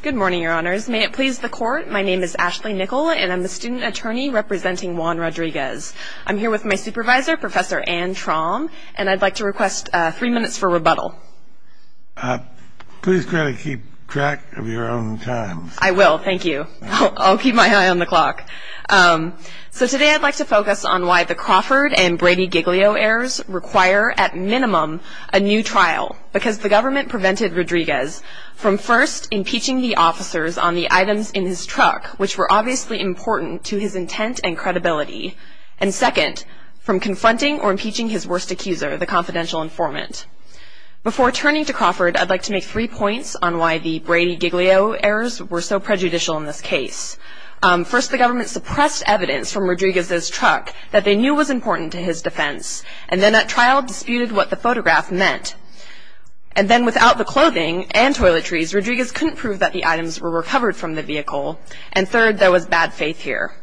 Good morning, your honors. May it please the court, my name is Ashley Nicol and I'm the student attorney representing Juan Rodriguez. I'm here with my supervisor, Professor Anne Traum, and I'd like to request three minutes for rebuttal. Please try to keep track of your own time. I will, thank you. I'll keep my eye on the clock. So today I'd like to focus on why the Crawford and Brady Giglio errors require, at minimum, a new trial. Because the government prevented Rodriguez from first, impeaching the officers on the items in his truck, which were obviously important to his intent and credibility. And second, from confronting or impeaching his worst accuser, the confidential informant. Before turning to Crawford, I'd like to make three points on why the Brady Giglio errors were so prejudicial in this case. First, the government suppressed evidence from Rodriguez's truck that they knew was important to his defense. And then at trial, disputed what the photograph meant. And then without the clothing and toiletries, Rodriguez couldn't prove that the items were recovered from the vehicle. And third, there was bad faith here.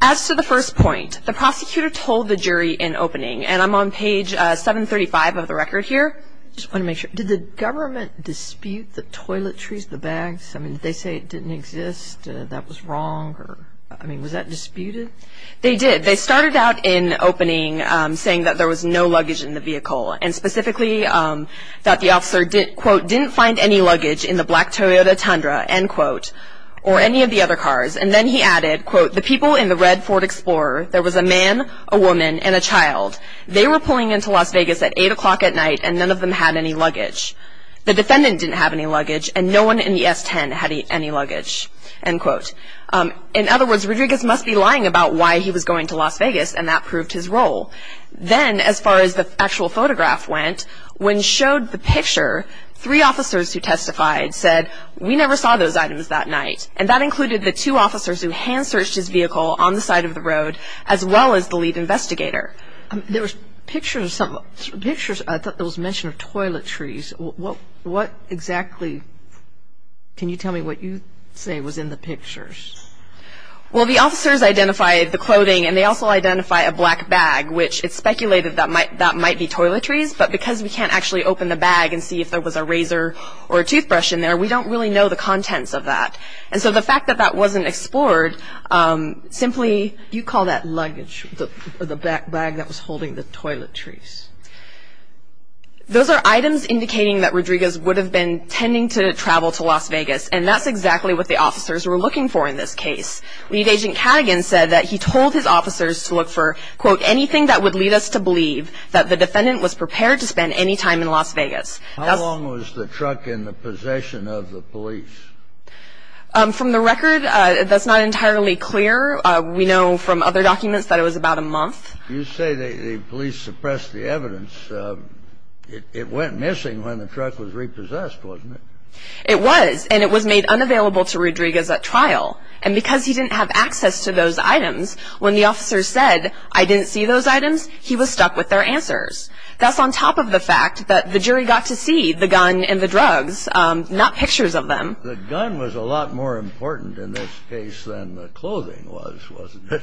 As to the first point, the prosecutor told the jury in opening, and I'm on page 735 of the record here. I just want to make sure. Did the government dispute the toiletries, the bags? I mean, did they say it didn't exist, that it was wrong? I mean, was that disputed? They did. They started out in opening saying that there was no luggage in the vehicle. And specifically, that the officer, quote, didn't find any luggage in the black Toyota Tundra, end quote, or any of the other cars. And then he added, quote, the people in the red Ford Explorer, there was a man, a woman, and a child. They were pulling into Las Vegas at 8 o'clock at night, and none of them had any luggage. The defendant didn't have any luggage, and no one in the S-10 had any luggage, end quote. In other words, Rodriguez must be lying about why he was going to Las Vegas, and that proved his role. Then, as far as the actual photograph went, when showed the picture, three officers who testified said, we never saw those items that night. And that included the two officers who hand-searched his vehicle on the side of the road, as well as the lead investigator. There was pictures, I thought there was mention of toiletries. What exactly, can you tell me what you say was in the pictures? Well, the officers identified the clothing, and they also identified a black bag, which it's speculated that might be toiletries, but because we can't actually open the bag and see if there was a razor or a toothbrush in there, we don't really know the contents of that. And so the fact that that wasn't explored, simply you call that luggage, the black bag that was holding the toiletries. Those are items indicating that Rodriguez would have been tending to travel to Las Vegas, and that's exactly what the officers were looking for in this case. Lead Agent Cadigan said that he told his officers to look for, quote, anything that would lead us to believe that the defendant was prepared to spend any time in Las Vegas. How long was the truck in the possession of the police? From the record, that's not entirely clear. We know from other documents that it was about a month. You say the police suppressed the evidence. It went missing when the truck was repossessed, wasn't it? It was, and it was made unavailable to Rodriguez at trial. And because he didn't have access to those items, when the officers said, I didn't see those items, he was stuck with their answers. That's on top of the fact that the jury got to see the gun and the drugs, not pictures of them. The gun was a lot more important in this case than the clothing was, wasn't it?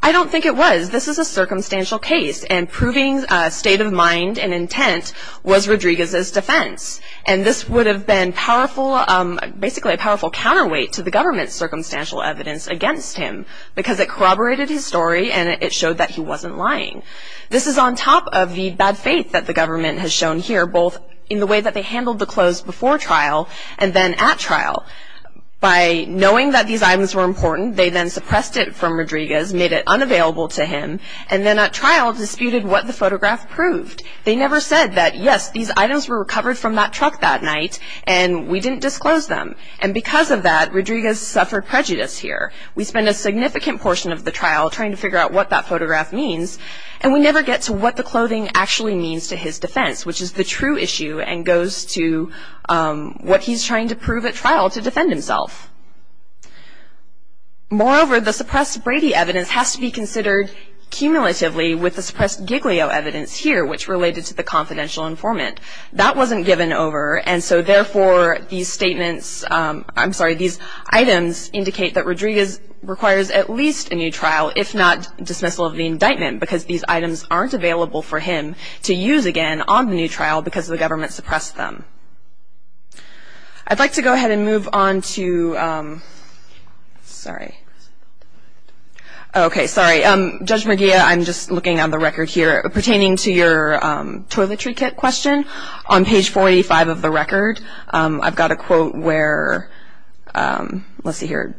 I don't think it was. This is a circumstantial case, and proving state of mind and intent was Rodriguez's defense. And this would have been powerful, basically a powerful counterweight to the government's circumstantial evidence against him, because it corroborated his story and it showed that he wasn't lying. This is on top of the bad faith that the government has shown here, both in the way that they handled the clothes before trial and then at trial. By knowing that these items were important, they then suppressed it from Rodriguez, made it unavailable to him, and then at trial disputed what the photograph proved. They never said that, yes, these items were recovered from that truck that night, and we didn't disclose them. And because of that, Rodriguez suffered prejudice here. We spend a significant portion of the trial trying to figure out what that photograph means, and we never get to what the clothing actually means to his defense, which is the true issue and goes to what he's trying to prove at trial to defend himself. Moreover, the suppressed Brady evidence has to be considered cumulatively with the suppressed Giglio evidence here, which related to the confidential informant. That wasn't given over, and so, therefore, these statements, I'm sorry, these items indicate that Rodriguez requires at least a new trial, if not dismissal of the indictment, because these items aren't available for him to use again on the new trial because the government suppressed them. I'd like to go ahead and move on to ‑‑ sorry. Okay, sorry. Judge McGeough, I'm just looking on the record here pertaining to your toiletry kit question. On page 45 of the record, I've got a quote where ‑‑ let's see here.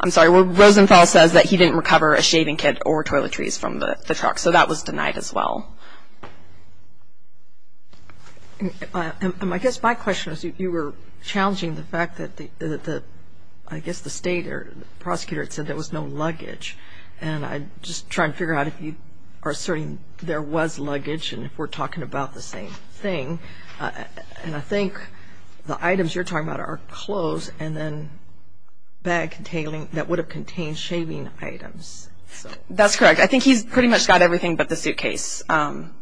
I'm sorry. Rosenthal says that he didn't recover a shaving kit or toiletries from the truck, so that was denied as well. I guess my question is, you were challenging the fact that, I guess, the state or the prosecutor had said there was no luggage, and I'm just trying to figure out if you are asserting there was luggage and if we're talking about the same thing, and I think the items you're talking about are clothes and then bag containing ‑‑ that would have contained shaving items. That's correct. I think he's pretty much got everything but the suitcase, and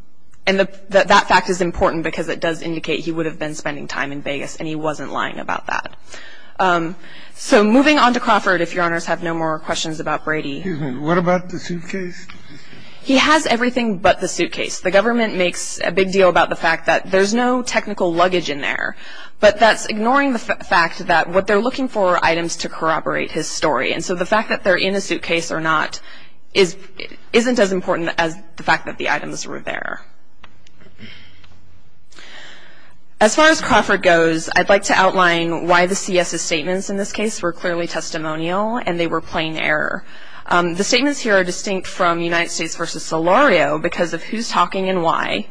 that fact is important because it does indicate he would have been spending time in Vegas, and he wasn't lying about that. So, moving on to Crawford, if Your Honors have no more questions about Brady. Excuse me. What about the suitcase? He has everything but the suitcase. The government makes a big deal about the fact that there's no technical luggage in there, but that's ignoring the fact that what they're looking for are items to corroborate his story, and so the fact that they're in a suitcase or not isn't as important as the fact that the items were there. As far as Crawford goes, I'd like to outline why the C.S.'s statements in this case were clearly testimonial and they were plain error. The statements here are distinct from United States v. Solorio because of who's talking and why,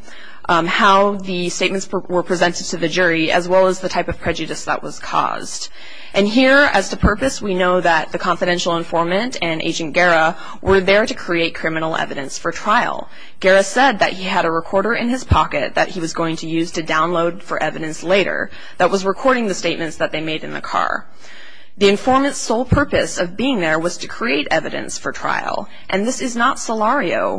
how the statements were presented to the jury, as well as the type of prejudice that was caused. And here, as to purpose, we know that the confidential informant and Agent Guerra were there to create criminal evidence for trial. Guerra said that he had a recorder in his pocket that he was going to use to download for evidence later that was recording the statements that they made in the car. The informant's sole purpose of being there was to create evidence for trial, and this is not Solorio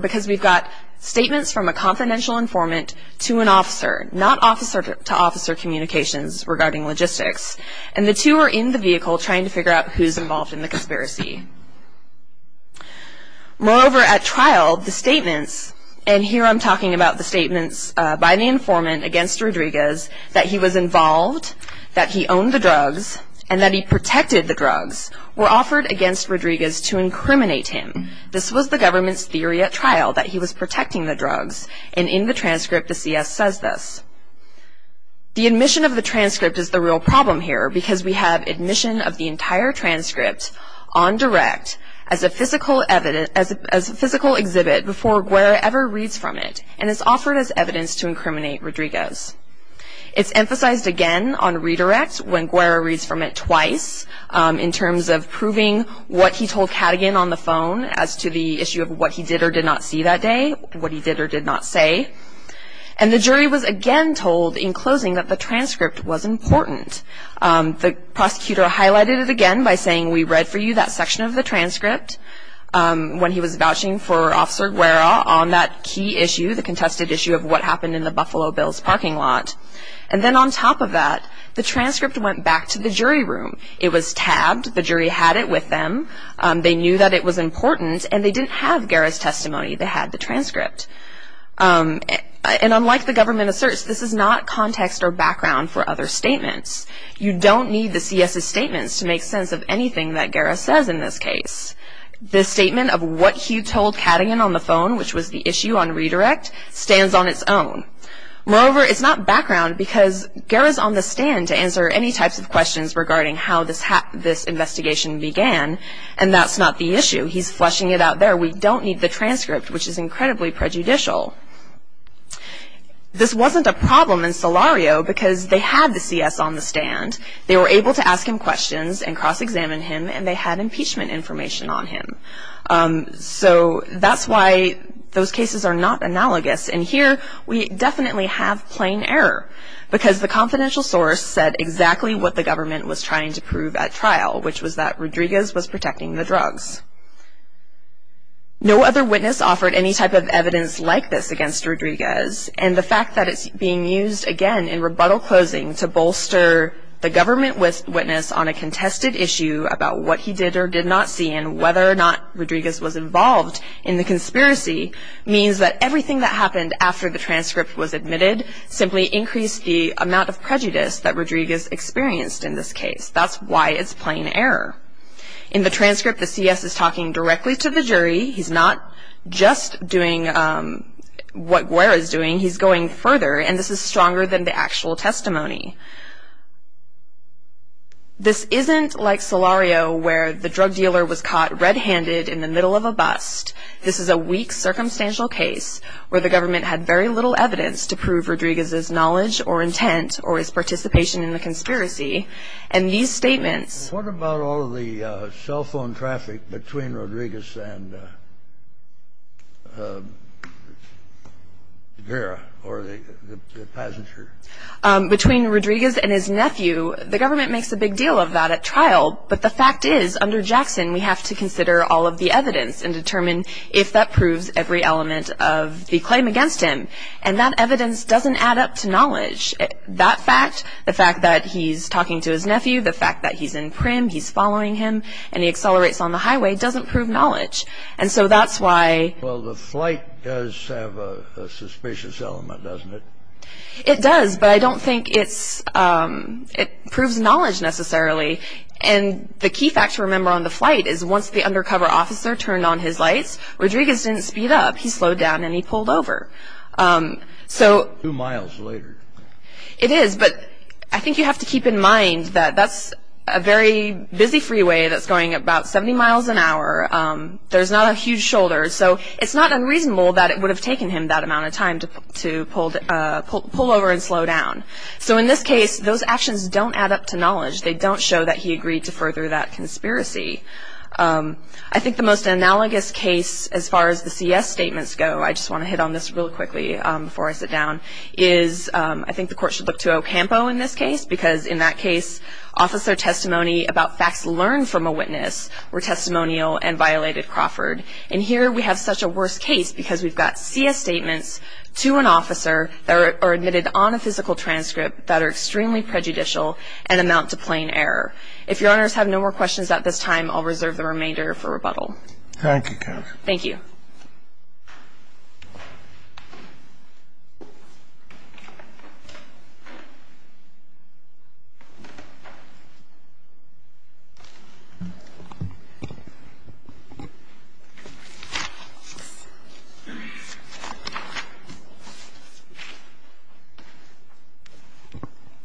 because we've got statements from a confidential informant to an officer, not officer-to-officer communications regarding logistics, and the two are in the vehicle trying to figure out who's involved in the conspiracy. Moreover, at trial, the statements, and here I'm talking about the statements by the informant against Rodriguez, that he was involved, that he owned the drugs, and that he protected the drugs, were offered against Rodriguez to incriminate him. This was the government's theory at trial, that he was protecting the drugs, and in the transcript, the CS says this. The admission of the transcript is the real problem here because we have admission of the entire transcript on direct as a physical exhibit before Guerra ever reads from it, and it's offered as evidence to incriminate Rodriguez. It's emphasized again on redirect when Guerra reads from it twice in terms of proving what he told Cadogan on the phone as to the issue of what he did or did not see that day, what he did or did not say, and the jury was again told in closing that the transcript was important. The prosecutor highlighted it again by saying, we read for you that section of the transcript when he was vouching for Officer Guerra on that key issue, the contested issue of what happened in the Buffalo Bills parking lot, and then on top of that, the transcript went back to the jury room. It was tabbed. The jury had it with them. They knew that it was important, and they didn't have Guerra's testimony. They had the transcript, and unlike the government asserts, this is not context or background for other statements. You don't need the CS's statements to make sense of anything that Guerra says in this case. The statement of what he told Cadogan on the phone, which was the issue on redirect, stands on its own. Moreover, it's not background because Guerra's on the stand to answer any types of questions regarding how this investigation began, and that's not the issue. He's fleshing it out there. We don't need the transcript, which is incredibly prejudicial. This wasn't a problem in Solario because they had the CS on the stand. They were able to ask him questions and cross-examine him, and they had impeachment information on him. So that's why those cases are not analogous, and here we definitely have plain error because the confidential source said exactly what the government was trying to prove at trial, which was that Rodriguez was protecting the drugs. No other witness offered any type of evidence like this against Rodriguez, and the fact that it's being used again in rebuttal closing to bolster the government witness on a contested issue about what he did or did not see and whether or not Rodriguez was involved in the conspiracy means that everything that happened after the transcript was admitted simply increased the amount of prejudice that Rodriguez experienced in this case. That's why it's plain error. In the transcript, the CS is talking directly to the jury. He's not just doing what Guerra is doing. He's going further, and this is stronger than the actual testimony. This isn't like Solario where the drug dealer was caught red-handed in the middle of a bust. This is a weak, circumstantial case where the government had very little evidence to prove Rodriguez's knowledge or intent or his participation in the conspiracy, and these statements are very strong evidence that Rodriguez was involved in this case. What about all of the cell phone traffic between Rodriguez and Guerra or the passenger? Between Rodriguez and his nephew, the government makes a big deal of that at trial, but the fact is, under Jackson, we have to consider all of the evidence and determine if that proves every element of the claim against him, and that evidence doesn't add up to knowledge. That fact, the fact that he's talking to his nephew, the fact that he's in prim, he's following him, and he accelerates on the highway doesn't prove knowledge, and so that's why... Well, the flight does have a suspicious element, doesn't it? It does, but I don't think it proves knowledge necessarily, and the key fact to remember on the flight is once the undercover officer turned on his lights, Rodriguez didn't speed up. He slowed down and he pulled over. Two miles later. It is, but I think you have to keep in mind that that's a very busy freeway that's going about 70 miles an hour. There's not a huge shoulder, so it's not unreasonable that it would have taken him that amount of time to pull over and slow down. So in this case, those actions don't add up to knowledge. They don't show that he agreed to further that conspiracy. I think the most analogous case as far as the CS statements go, I just want to hit on this real quickly before I sit down, is I think the court should look to Ocampo in this case because in that case, officer testimony about facts learned from a witness were testimonial and violated Crawford, and here we have such a worse case because we've got CS statements to an officer that are admitted on a physical transcript that are extremely prejudicial and amount to plain error. If Your Honors have no more questions at this time, I'll reserve the remainder for rebuttal. Thank you, counsel. Thank you.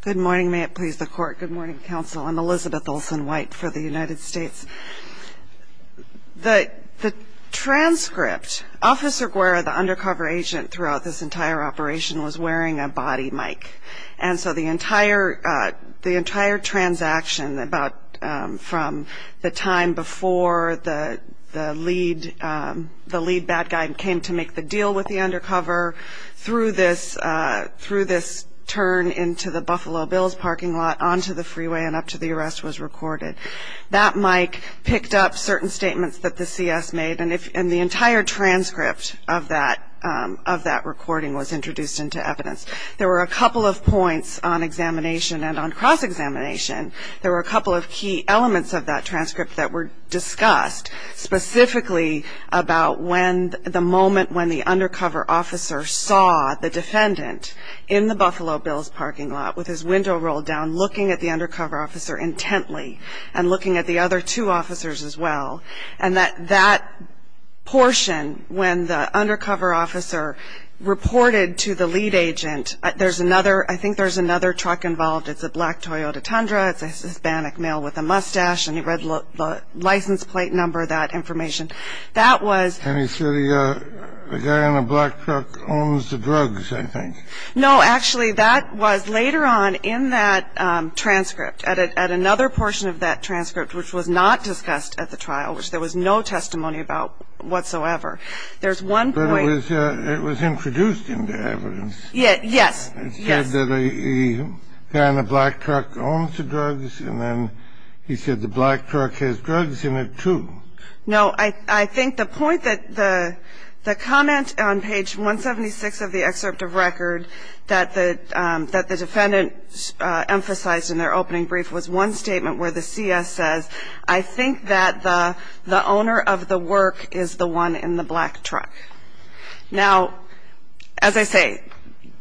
Good morning. May it please the Court. Good morning, counsel. I'm Elizabeth Olsen-White for the United States. The transcript, Officer Guerra, the undercover agent throughout this entire operation, was wearing a body mic, and so the entire transaction from the time before the lead bad guy came to make the deal with the undercover through this turn into the Buffalo Bills parking lot onto the freeway and up to the arrest was recorded. That mic picked up certain statements that the CS made, and the entire transcript of that recording was introduced into evidence. There were a couple of points on examination and on cross-examination. There were a couple of key elements of that transcript that were discussed, specifically about the moment when the undercover officer saw the defendant in the Buffalo Bills parking lot with his window rolled down looking at the undercover officer intently and looking at the other two officers as well, and that that portion when the undercover officer reported to the lead agent, there's another, I think there's another truck involved, it's a black Toyota Tundra, it's a Hispanic male with a mustache, and he read the license plate number, that information. That was... And he said the guy in the black truck owns the drugs, I think. No, actually, that was later on in that transcript, at another portion of that transcript, which was not discussed at the trial, which there was no testimony about whatsoever. There's one point... But it was introduced into evidence. Yes, yes. It said that the guy in the black truck owns the drugs, and then he said the black truck has drugs in it, too. No, I think the point that the comment on page 176 of the excerpt of record that the defendant emphasized in their opening brief was one statement where the CS says, I think that the owner of the work is the one in the black truck. Now, as I say,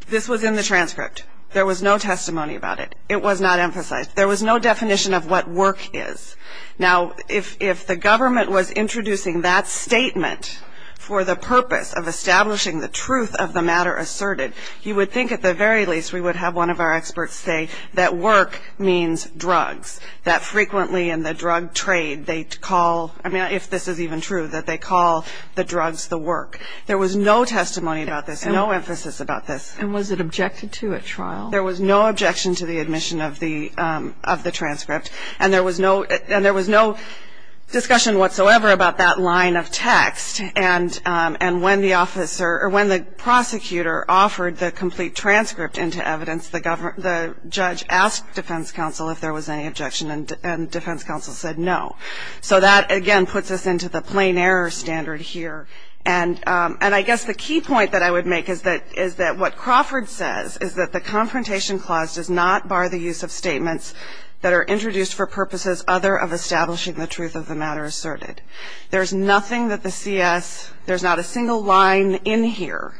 this was in the transcript. There was no testimony about it. It was not emphasized. There was no definition of what work is. Now, if the government was introducing that statement for the purpose of establishing the truth of the matter asserted, you would think at the very least we would have one of our experts say that work means drugs, that frequently in the drug trade they call, I mean, if this is even true, that they call the drugs the work. There was no testimony about this, no emphasis about this. And was it objected to at trial? There was no objection to the admission of the transcript, and there was no discussion whatsoever about that line of text. And when the prosecutor offered the complete transcript into evidence, the judge asked defense counsel if there was any objection, and defense counsel said no. So that, again, puts us into the plain error standard here. And I guess the key point that I would make is that what Crawford says is that the Confrontation Clause does not bar the use of statements that are introduced for purposes other of establishing the truth of the matter asserted. There's nothing that the CS, there's not a single line in here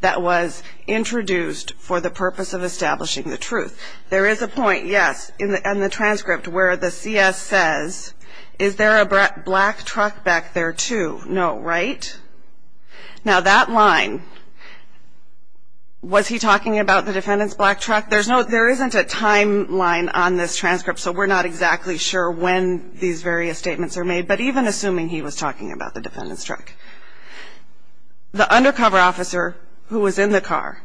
that was introduced for the purpose of establishing the truth. There is a point, yes, in the transcript where the CS says, is there a black truck back there too? No, right? Now, that line, was he talking about the defendant's black truck? There isn't a timeline on this transcript, so we're not exactly sure when these various statements are made. But even assuming he was talking about the defendant's truck, the undercover officer who was in the car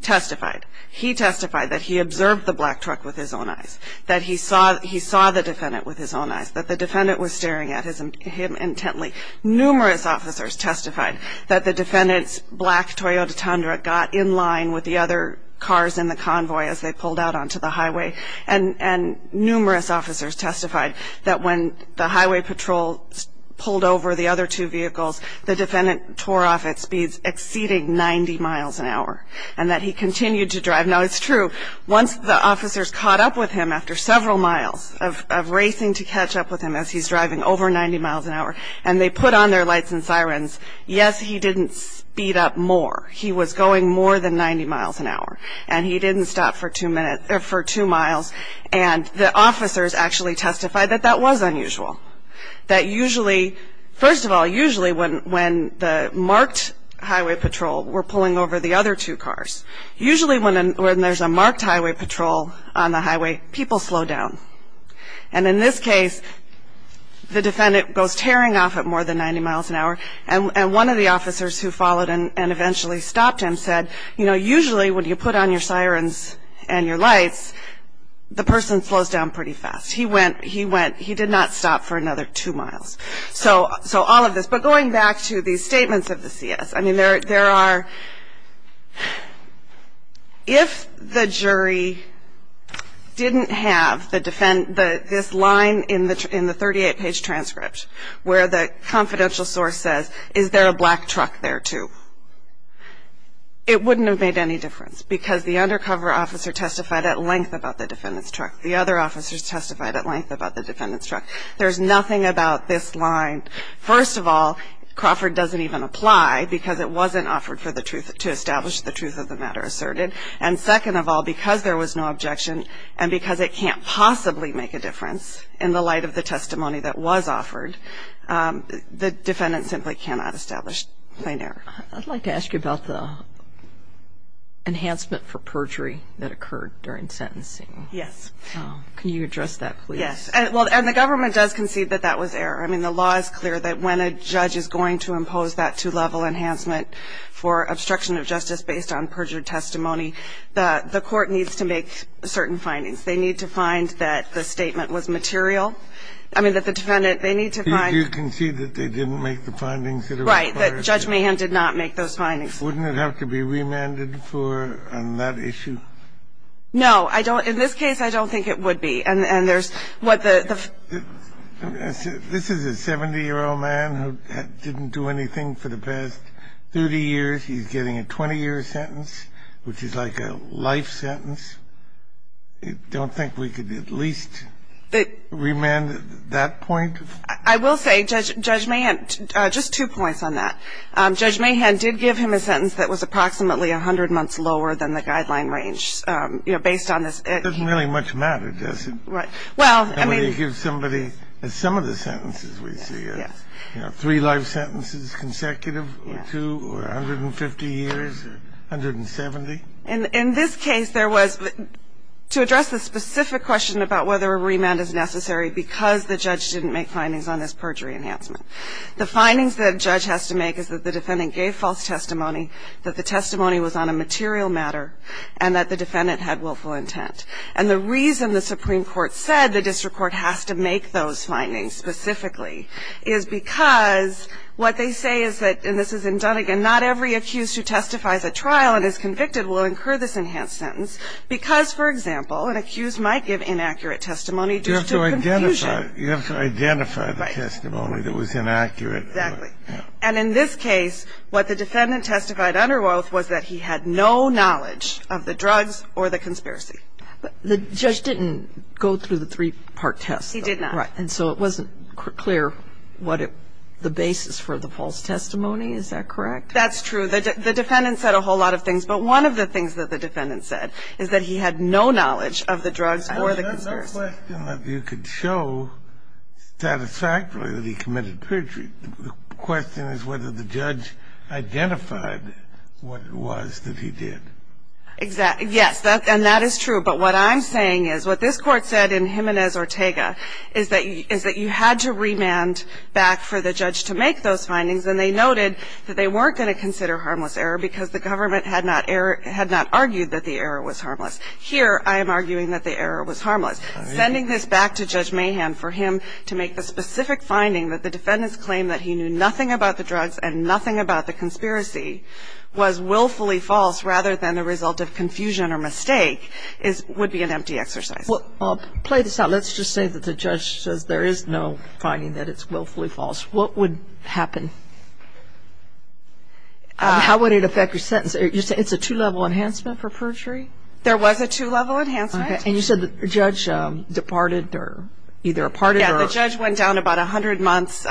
testified. He testified that he observed the black truck with his own eyes, that he saw the defendant with his own eyes, that the defendant was staring at him intently. Numerous officers testified that the defendant's black Toyota Tundra got in line with the other cars in the convoy as they pulled out onto the highway. And numerous officers testified that when the highway patrol pulled over the other two vehicles, the defendant tore off at speeds exceeding 90 miles an hour, and that he continued to drive. Now, it's true, once the officers caught up with him after several miles of racing to catch up with him as he's driving over 90 miles an hour, and they put on their lights and sirens, yes, he didn't speed up more. He was going more than 90 miles an hour, and he didn't stop for two miles. And the officers actually testified that that was unusual, that usually, first of all, usually when the marked highway patrol were pulling over the other two cars, usually when there's a marked highway patrol on the highway, people slow down. And in this case, the defendant goes tearing off at more than 90 miles an hour, and one of the officers who followed and eventually stopped him said, you know, usually when you put on your sirens and your lights, the person slows down pretty fast. He went, he went, he did not stop for another two miles. So all of this. But going back to these statements of the CS, I mean, there are, if the jury didn't have this line in the 38-page transcript where the confidential source says, is there a black truck there too, it wouldn't have made any difference because the undercover officer testified at length about the defendant's truck. The other officers testified at length about the defendant's truck. There's nothing about this line. First of all, Crawford doesn't even apply because it wasn't offered for the truth, to establish the truth of the matter asserted. And second of all, because there was no objection and because it can't possibly make a difference in the light of the testimony that was offered, the defendant simply cannot establish plain error. I'd like to ask you about the enhancement for perjury that occurred during sentencing. Yes. Can you address that, please? Yes. And the government does concede that that was error. I mean, the law is clear that when a judge is going to impose that two-level enhancement for obstruction of justice based on perjured testimony, the court needs to make certain findings. They need to find that the statement was material. I mean, that the defendant, they need to find the evidence. So you concede that they didn't make the findings that are required? Right, that Judge Mahan did not make those findings. Wouldn't it have to be remanded for on that issue? No. I don't – in this case, I don't think it would be. And there's what the – This is a 70-year-old man who didn't do anything for the past 30 years. He's getting a 20-year sentence, which is like a life sentence. Don't think we could at least remand that point? I will say, Judge Mahan, just two points on that. Judge Mahan did give him a sentence that was approximately 100 months lower than the guideline range, you know, based on this. It doesn't really much matter, does it? Well, I mean – When you give somebody some of the sentences we see, you know, three life sentences consecutive or two or 150 years or 170. In this case, there was – to address the specific question about whether a remand is necessary because the judge didn't make findings on this perjury enhancement, the findings that a judge has to make is that the defendant gave false testimony, that the testimony was on a material matter, and that the defendant had willful intent. And the reason the Supreme Court said the district court has to make those findings specifically is because what they say is that – and this is in Dunnegan – that not every accused who testifies at trial and is convicted will incur this enhanced sentence because, for example, an accused might give inaccurate testimony due to confusion. You have to identify the testimony that was inaccurate. Exactly. And in this case, what the defendant testified under oath was that he had no knowledge of the drugs or the conspiracy. The judge didn't go through the three-part test, though. He did not. Right. And so it wasn't clear what the basis for the false testimony, is that correct? That's true. The defendant said a whole lot of things. But one of the things that the defendant said is that he had no knowledge of the drugs or the conspiracy. I have no question that you could show satisfactorily that he committed perjury. The question is whether the judge identified what it was that he did. Exactly. Yes. And that is true. But what I'm saying is what this Court said in Jimenez-Ortega is that you had to remand back for the judge to make those findings, and they noted that they weren't going to consider harmless error because the government had not argued that the error was harmless. Here, I am arguing that the error was harmless. Sending this back to Judge Mahan for him to make the specific finding that the defendant's claim that he knew nothing about the drugs and nothing about the conspiracy was willfully false rather than the result of confusion or mistake would be an empty exercise. Well, play this out. Let's just say that the judge says there is no finding that it's willfully false. What would happen? How would it affect your sentence? You're saying it's a two-level enhancement for perjury? There was a two-level enhancement. Okay. And you said the judge departed or either departed or... Yeah, the judge went down about 100 months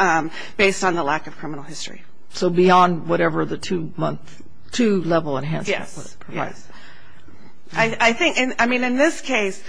based on the lack of criminal history. So beyond whatever the two-level enhancement would have provided. Yes. Yes. I think, I mean, in this case,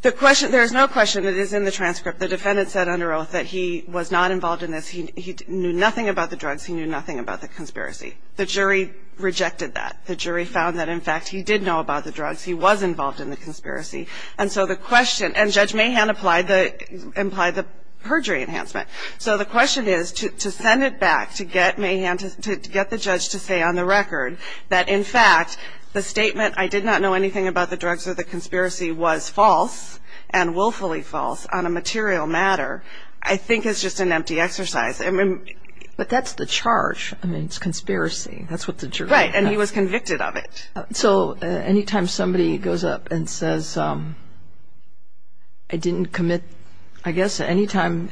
the question, there is no question that it is in the transcript. The defendant said under oath that he was not involved in this. He knew nothing about the drugs. He knew nothing about the conspiracy. The jury rejected that. The jury found that, in fact, he did know about the drugs. He was involved in the conspiracy. And so the question, and Judge Mahan implied the perjury enhancement. So the question is to send it back to get Mahan, to get the judge to say on the record that, in fact, the statement, I did not know anything about the drugs or the conspiracy was false and willfully false on a material matter, I think is just an empty exercise. But that's the charge. I mean, it's conspiracy. That's what the jury... Right. And he was convicted of it. So anytime somebody goes up and says, I didn't commit, I guess, anytime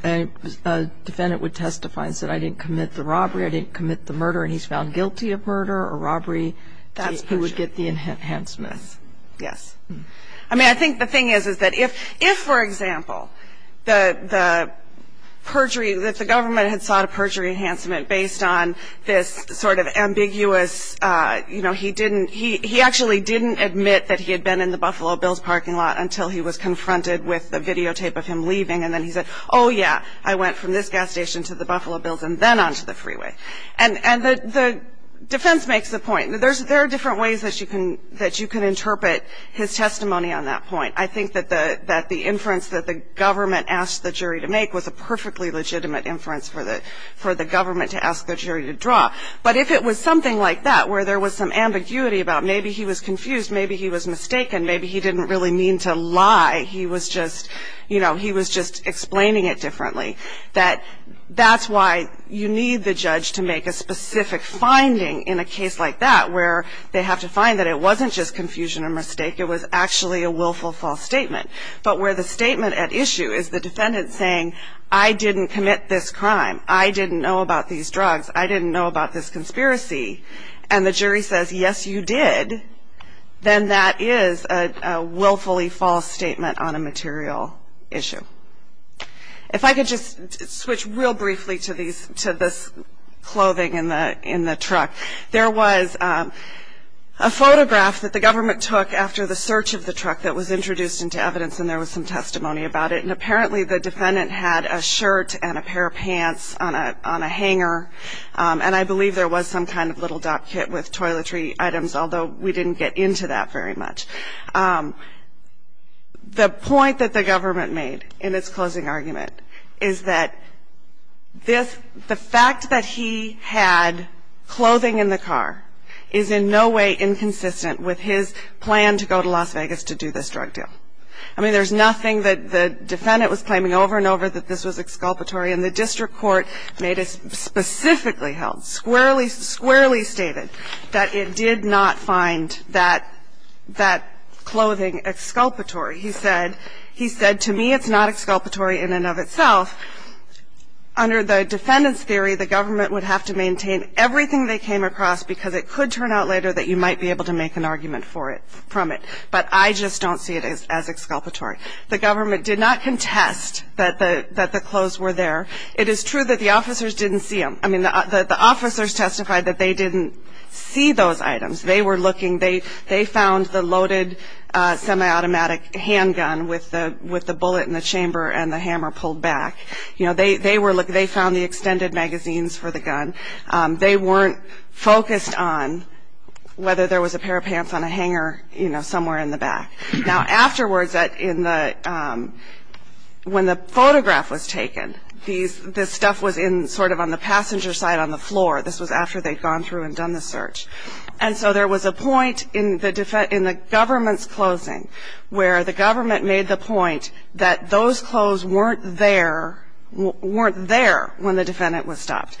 a defendant would testify and say, I didn't commit the robbery, I didn't commit the murder, and he's found guilty of murder or robbery... That's perjury. ...he would get the enhancement. Yes. I mean, I think the thing is, is that if, for example, the perjury, that the government had sought a perjury enhancement based on this sort of ambiguous, you know, he didn't, he actually didn't admit that he had been in the Buffalo Bills parking lot until he was confronted with the videotape of him leaving. And then he said, oh, yeah, I went from this gas station to the Buffalo Bills and then onto the freeway. And the defense makes the point. There are different ways that you can interpret his testimony on that point. I think that the inference that the government asked the jury to make was a perfectly legitimate inference for the government to ask the jury to draw. But if it was something like that, where there was some ambiguity about maybe he was confused, maybe he was mistaken, maybe he didn't really mean to lie, he was just, you know, he was just explaining it differently, that that's why you need the judge to make a specific finding in a case like that, where they have to find that it wasn't just confusion or mistake, it was actually a willful false statement. But where the statement at issue is the defendant saying, I didn't commit this crime, I didn't know about these drugs, I didn't know about this conspiracy, and the jury says, yes, you did, then that is a willfully false statement on a material issue. If I could just switch real briefly to this clothing in the truck. There was a photograph that the government took after the search of the truck that was introduced into evidence, and there was some testimony about it. And apparently the defendant had a shirt and a pair of pants on a hanger, and I believe there was some kind of little dock kit with toiletry items, although we didn't get into that very much. The point that the government made in its closing argument is that the fact that he had clothing in the car is in no way inconsistent with his plan to go to Las Vegas to do this drug deal. I mean, there's nothing that the defendant was claiming over and over that this was exculpatory, and the district court made it specifically held, squarely stated, that it did not find that clothing exculpatory. He said, to me, it's not exculpatory in and of itself. Under the defendant's theory, the government would have to maintain everything they came across because it could turn out later that you might be able to make an argument from it, but I just don't see it as exculpatory. The government did not contest that the clothes were there. It is true that the officers didn't see them. I mean, the officers testified that they didn't see those items. They were looking. They found the loaded semi-automatic handgun with the bullet in the chamber and the hammer pulled back. They found the extended magazines for the gun. They weren't focused on whether there was a pair of pants on a hanger somewhere in the back. Now, afterwards, in the ñ when the photograph was taken, this stuff was in sort of on the passenger side on the floor. This was after they'd gone through and done the search. And so there was a point in the government's closing where the government made the point that those clothes weren't there when the defendant was stopped.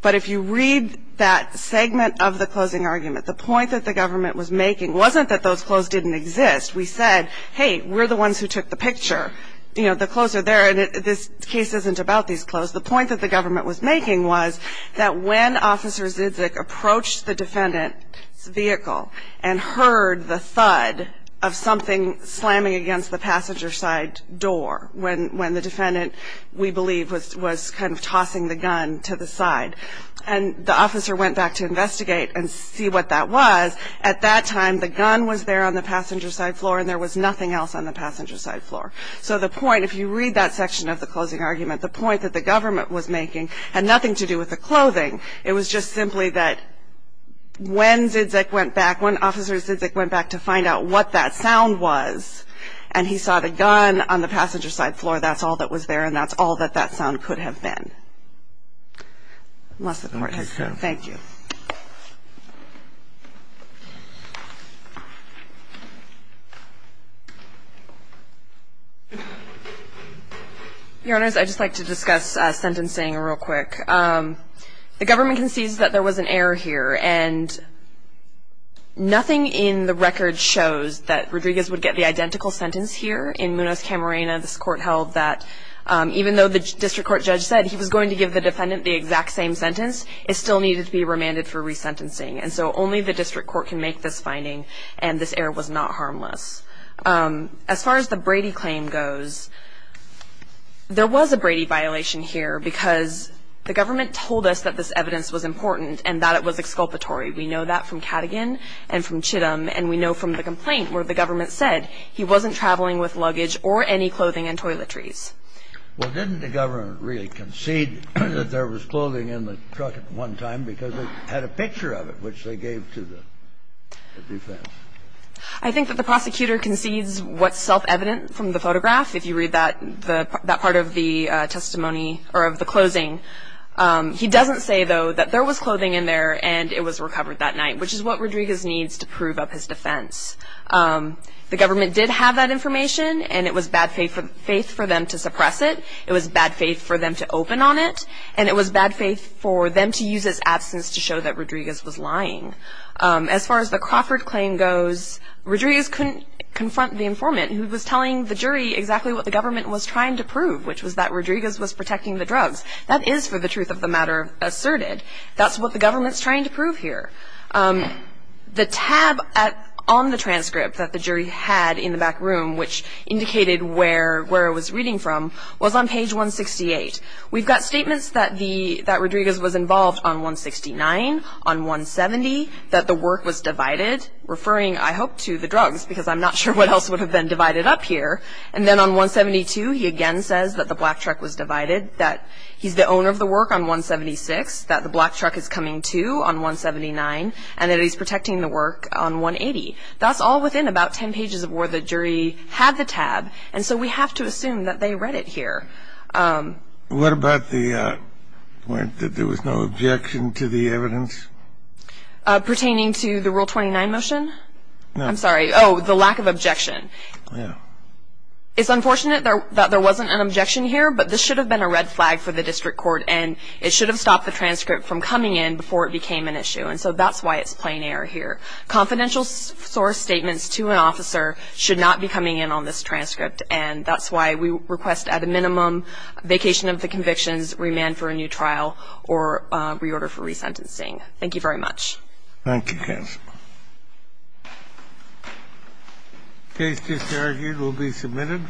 But if you read that segment of the closing argument, the point that the government was making wasn't that those clothes didn't exist. We said, hey, we're the ones who took the picture. You know, the clothes are there, and this case isn't about these clothes. The point that the government was making was that when Officer Zizek approached the defendant's vehicle and heard the thud of something slamming against the passenger side door, when the defendant, we believe, was kind of tossing the gun to the side, and the officer went back to investigate and see what that was, at that time the gun was there on the passenger side floor, and there was nothing else on the passenger side floor. So the point, if you read that section of the closing argument, the point that the government was making had nothing to do with the clothing. It was just simply that when Zizek went back, when Officer Zizek went back to find out what that sound was, and he saw the gun on the passenger side floor, that's all that was there, and that's all that that sound could have been. Unless the Court has something. Thank you. Your Honors, I'd just like to discuss sentencing real quick. The government concedes that there was an error here, and nothing in the record shows that Rodriguez would get the identical sentence here. In Munoz-Camarena, this Court held that even though the District Court judge said he was going to give the defendant the exact same sentence, it still needed to be remanded for resentencing. And so only the District Court can make this finding, and this error was not harmless. As far as the Brady claim goes, there was a Brady violation here because the government told us that this evidence was important and that it was exculpatory. We know that from Cadogan and from Chittum, and we know from the complaint where the government said he wasn't traveling with luggage or any clothing and toiletries. Well, didn't the government really concede that there was clothing in the truck at one time because it had a picture of it, which they gave to the defense? I think that the prosecutor concedes what's self-evident from the photograph, if you read that part of the testimony or of the closing. He doesn't say, though, that there was clothing in there and it was recovered that night, which is what Rodriguez needs to prove up his defense. The government did have that information, and it was bad faith for them to suppress it, it was bad faith for them to open on it, and it was bad faith for them to use its absence to show that Rodriguez was lying. As far as the Crawford claim goes, Rodriguez couldn't confront the informant who was telling the jury exactly what the government was trying to prove, which was that Rodriguez was protecting the drugs. That is, for the truth of the matter, asserted. That's what the government's trying to prove here. The tab on the transcript that the jury had in the back room, which indicated where it was reading from, was on page 168. We've got statements that Rodriguez was involved on 169, on 170, that the work was divided, referring, I hope, to the drugs, because I'm not sure what else would have been divided up here. And then on 172, he again says that the black truck was divided, that he's the owner of the work on 176, that the black truck is coming to on 179, and that he's protecting the work on 180. That's all within about ten pages of where the jury had the tab, and so we have to assume that they read it here. What about the point that there was no objection to the evidence? Pertaining to the Rule 29 motion? No. I'm sorry. Oh, the lack of objection. Yeah. It's unfortunate that there wasn't an objection here, but this should have been a red flag for the district court, and it should have stopped the transcript from coming in before it became an issue. And so that's why it's plain error here. Confidential source statements to an officer should not be coming in on this transcript, and that's why we request at a minimum vacation of the convictions, remand for a new trial, or reorder for resentencing. Thank you very much. Thank you, Kass. The case discharged will be submitted.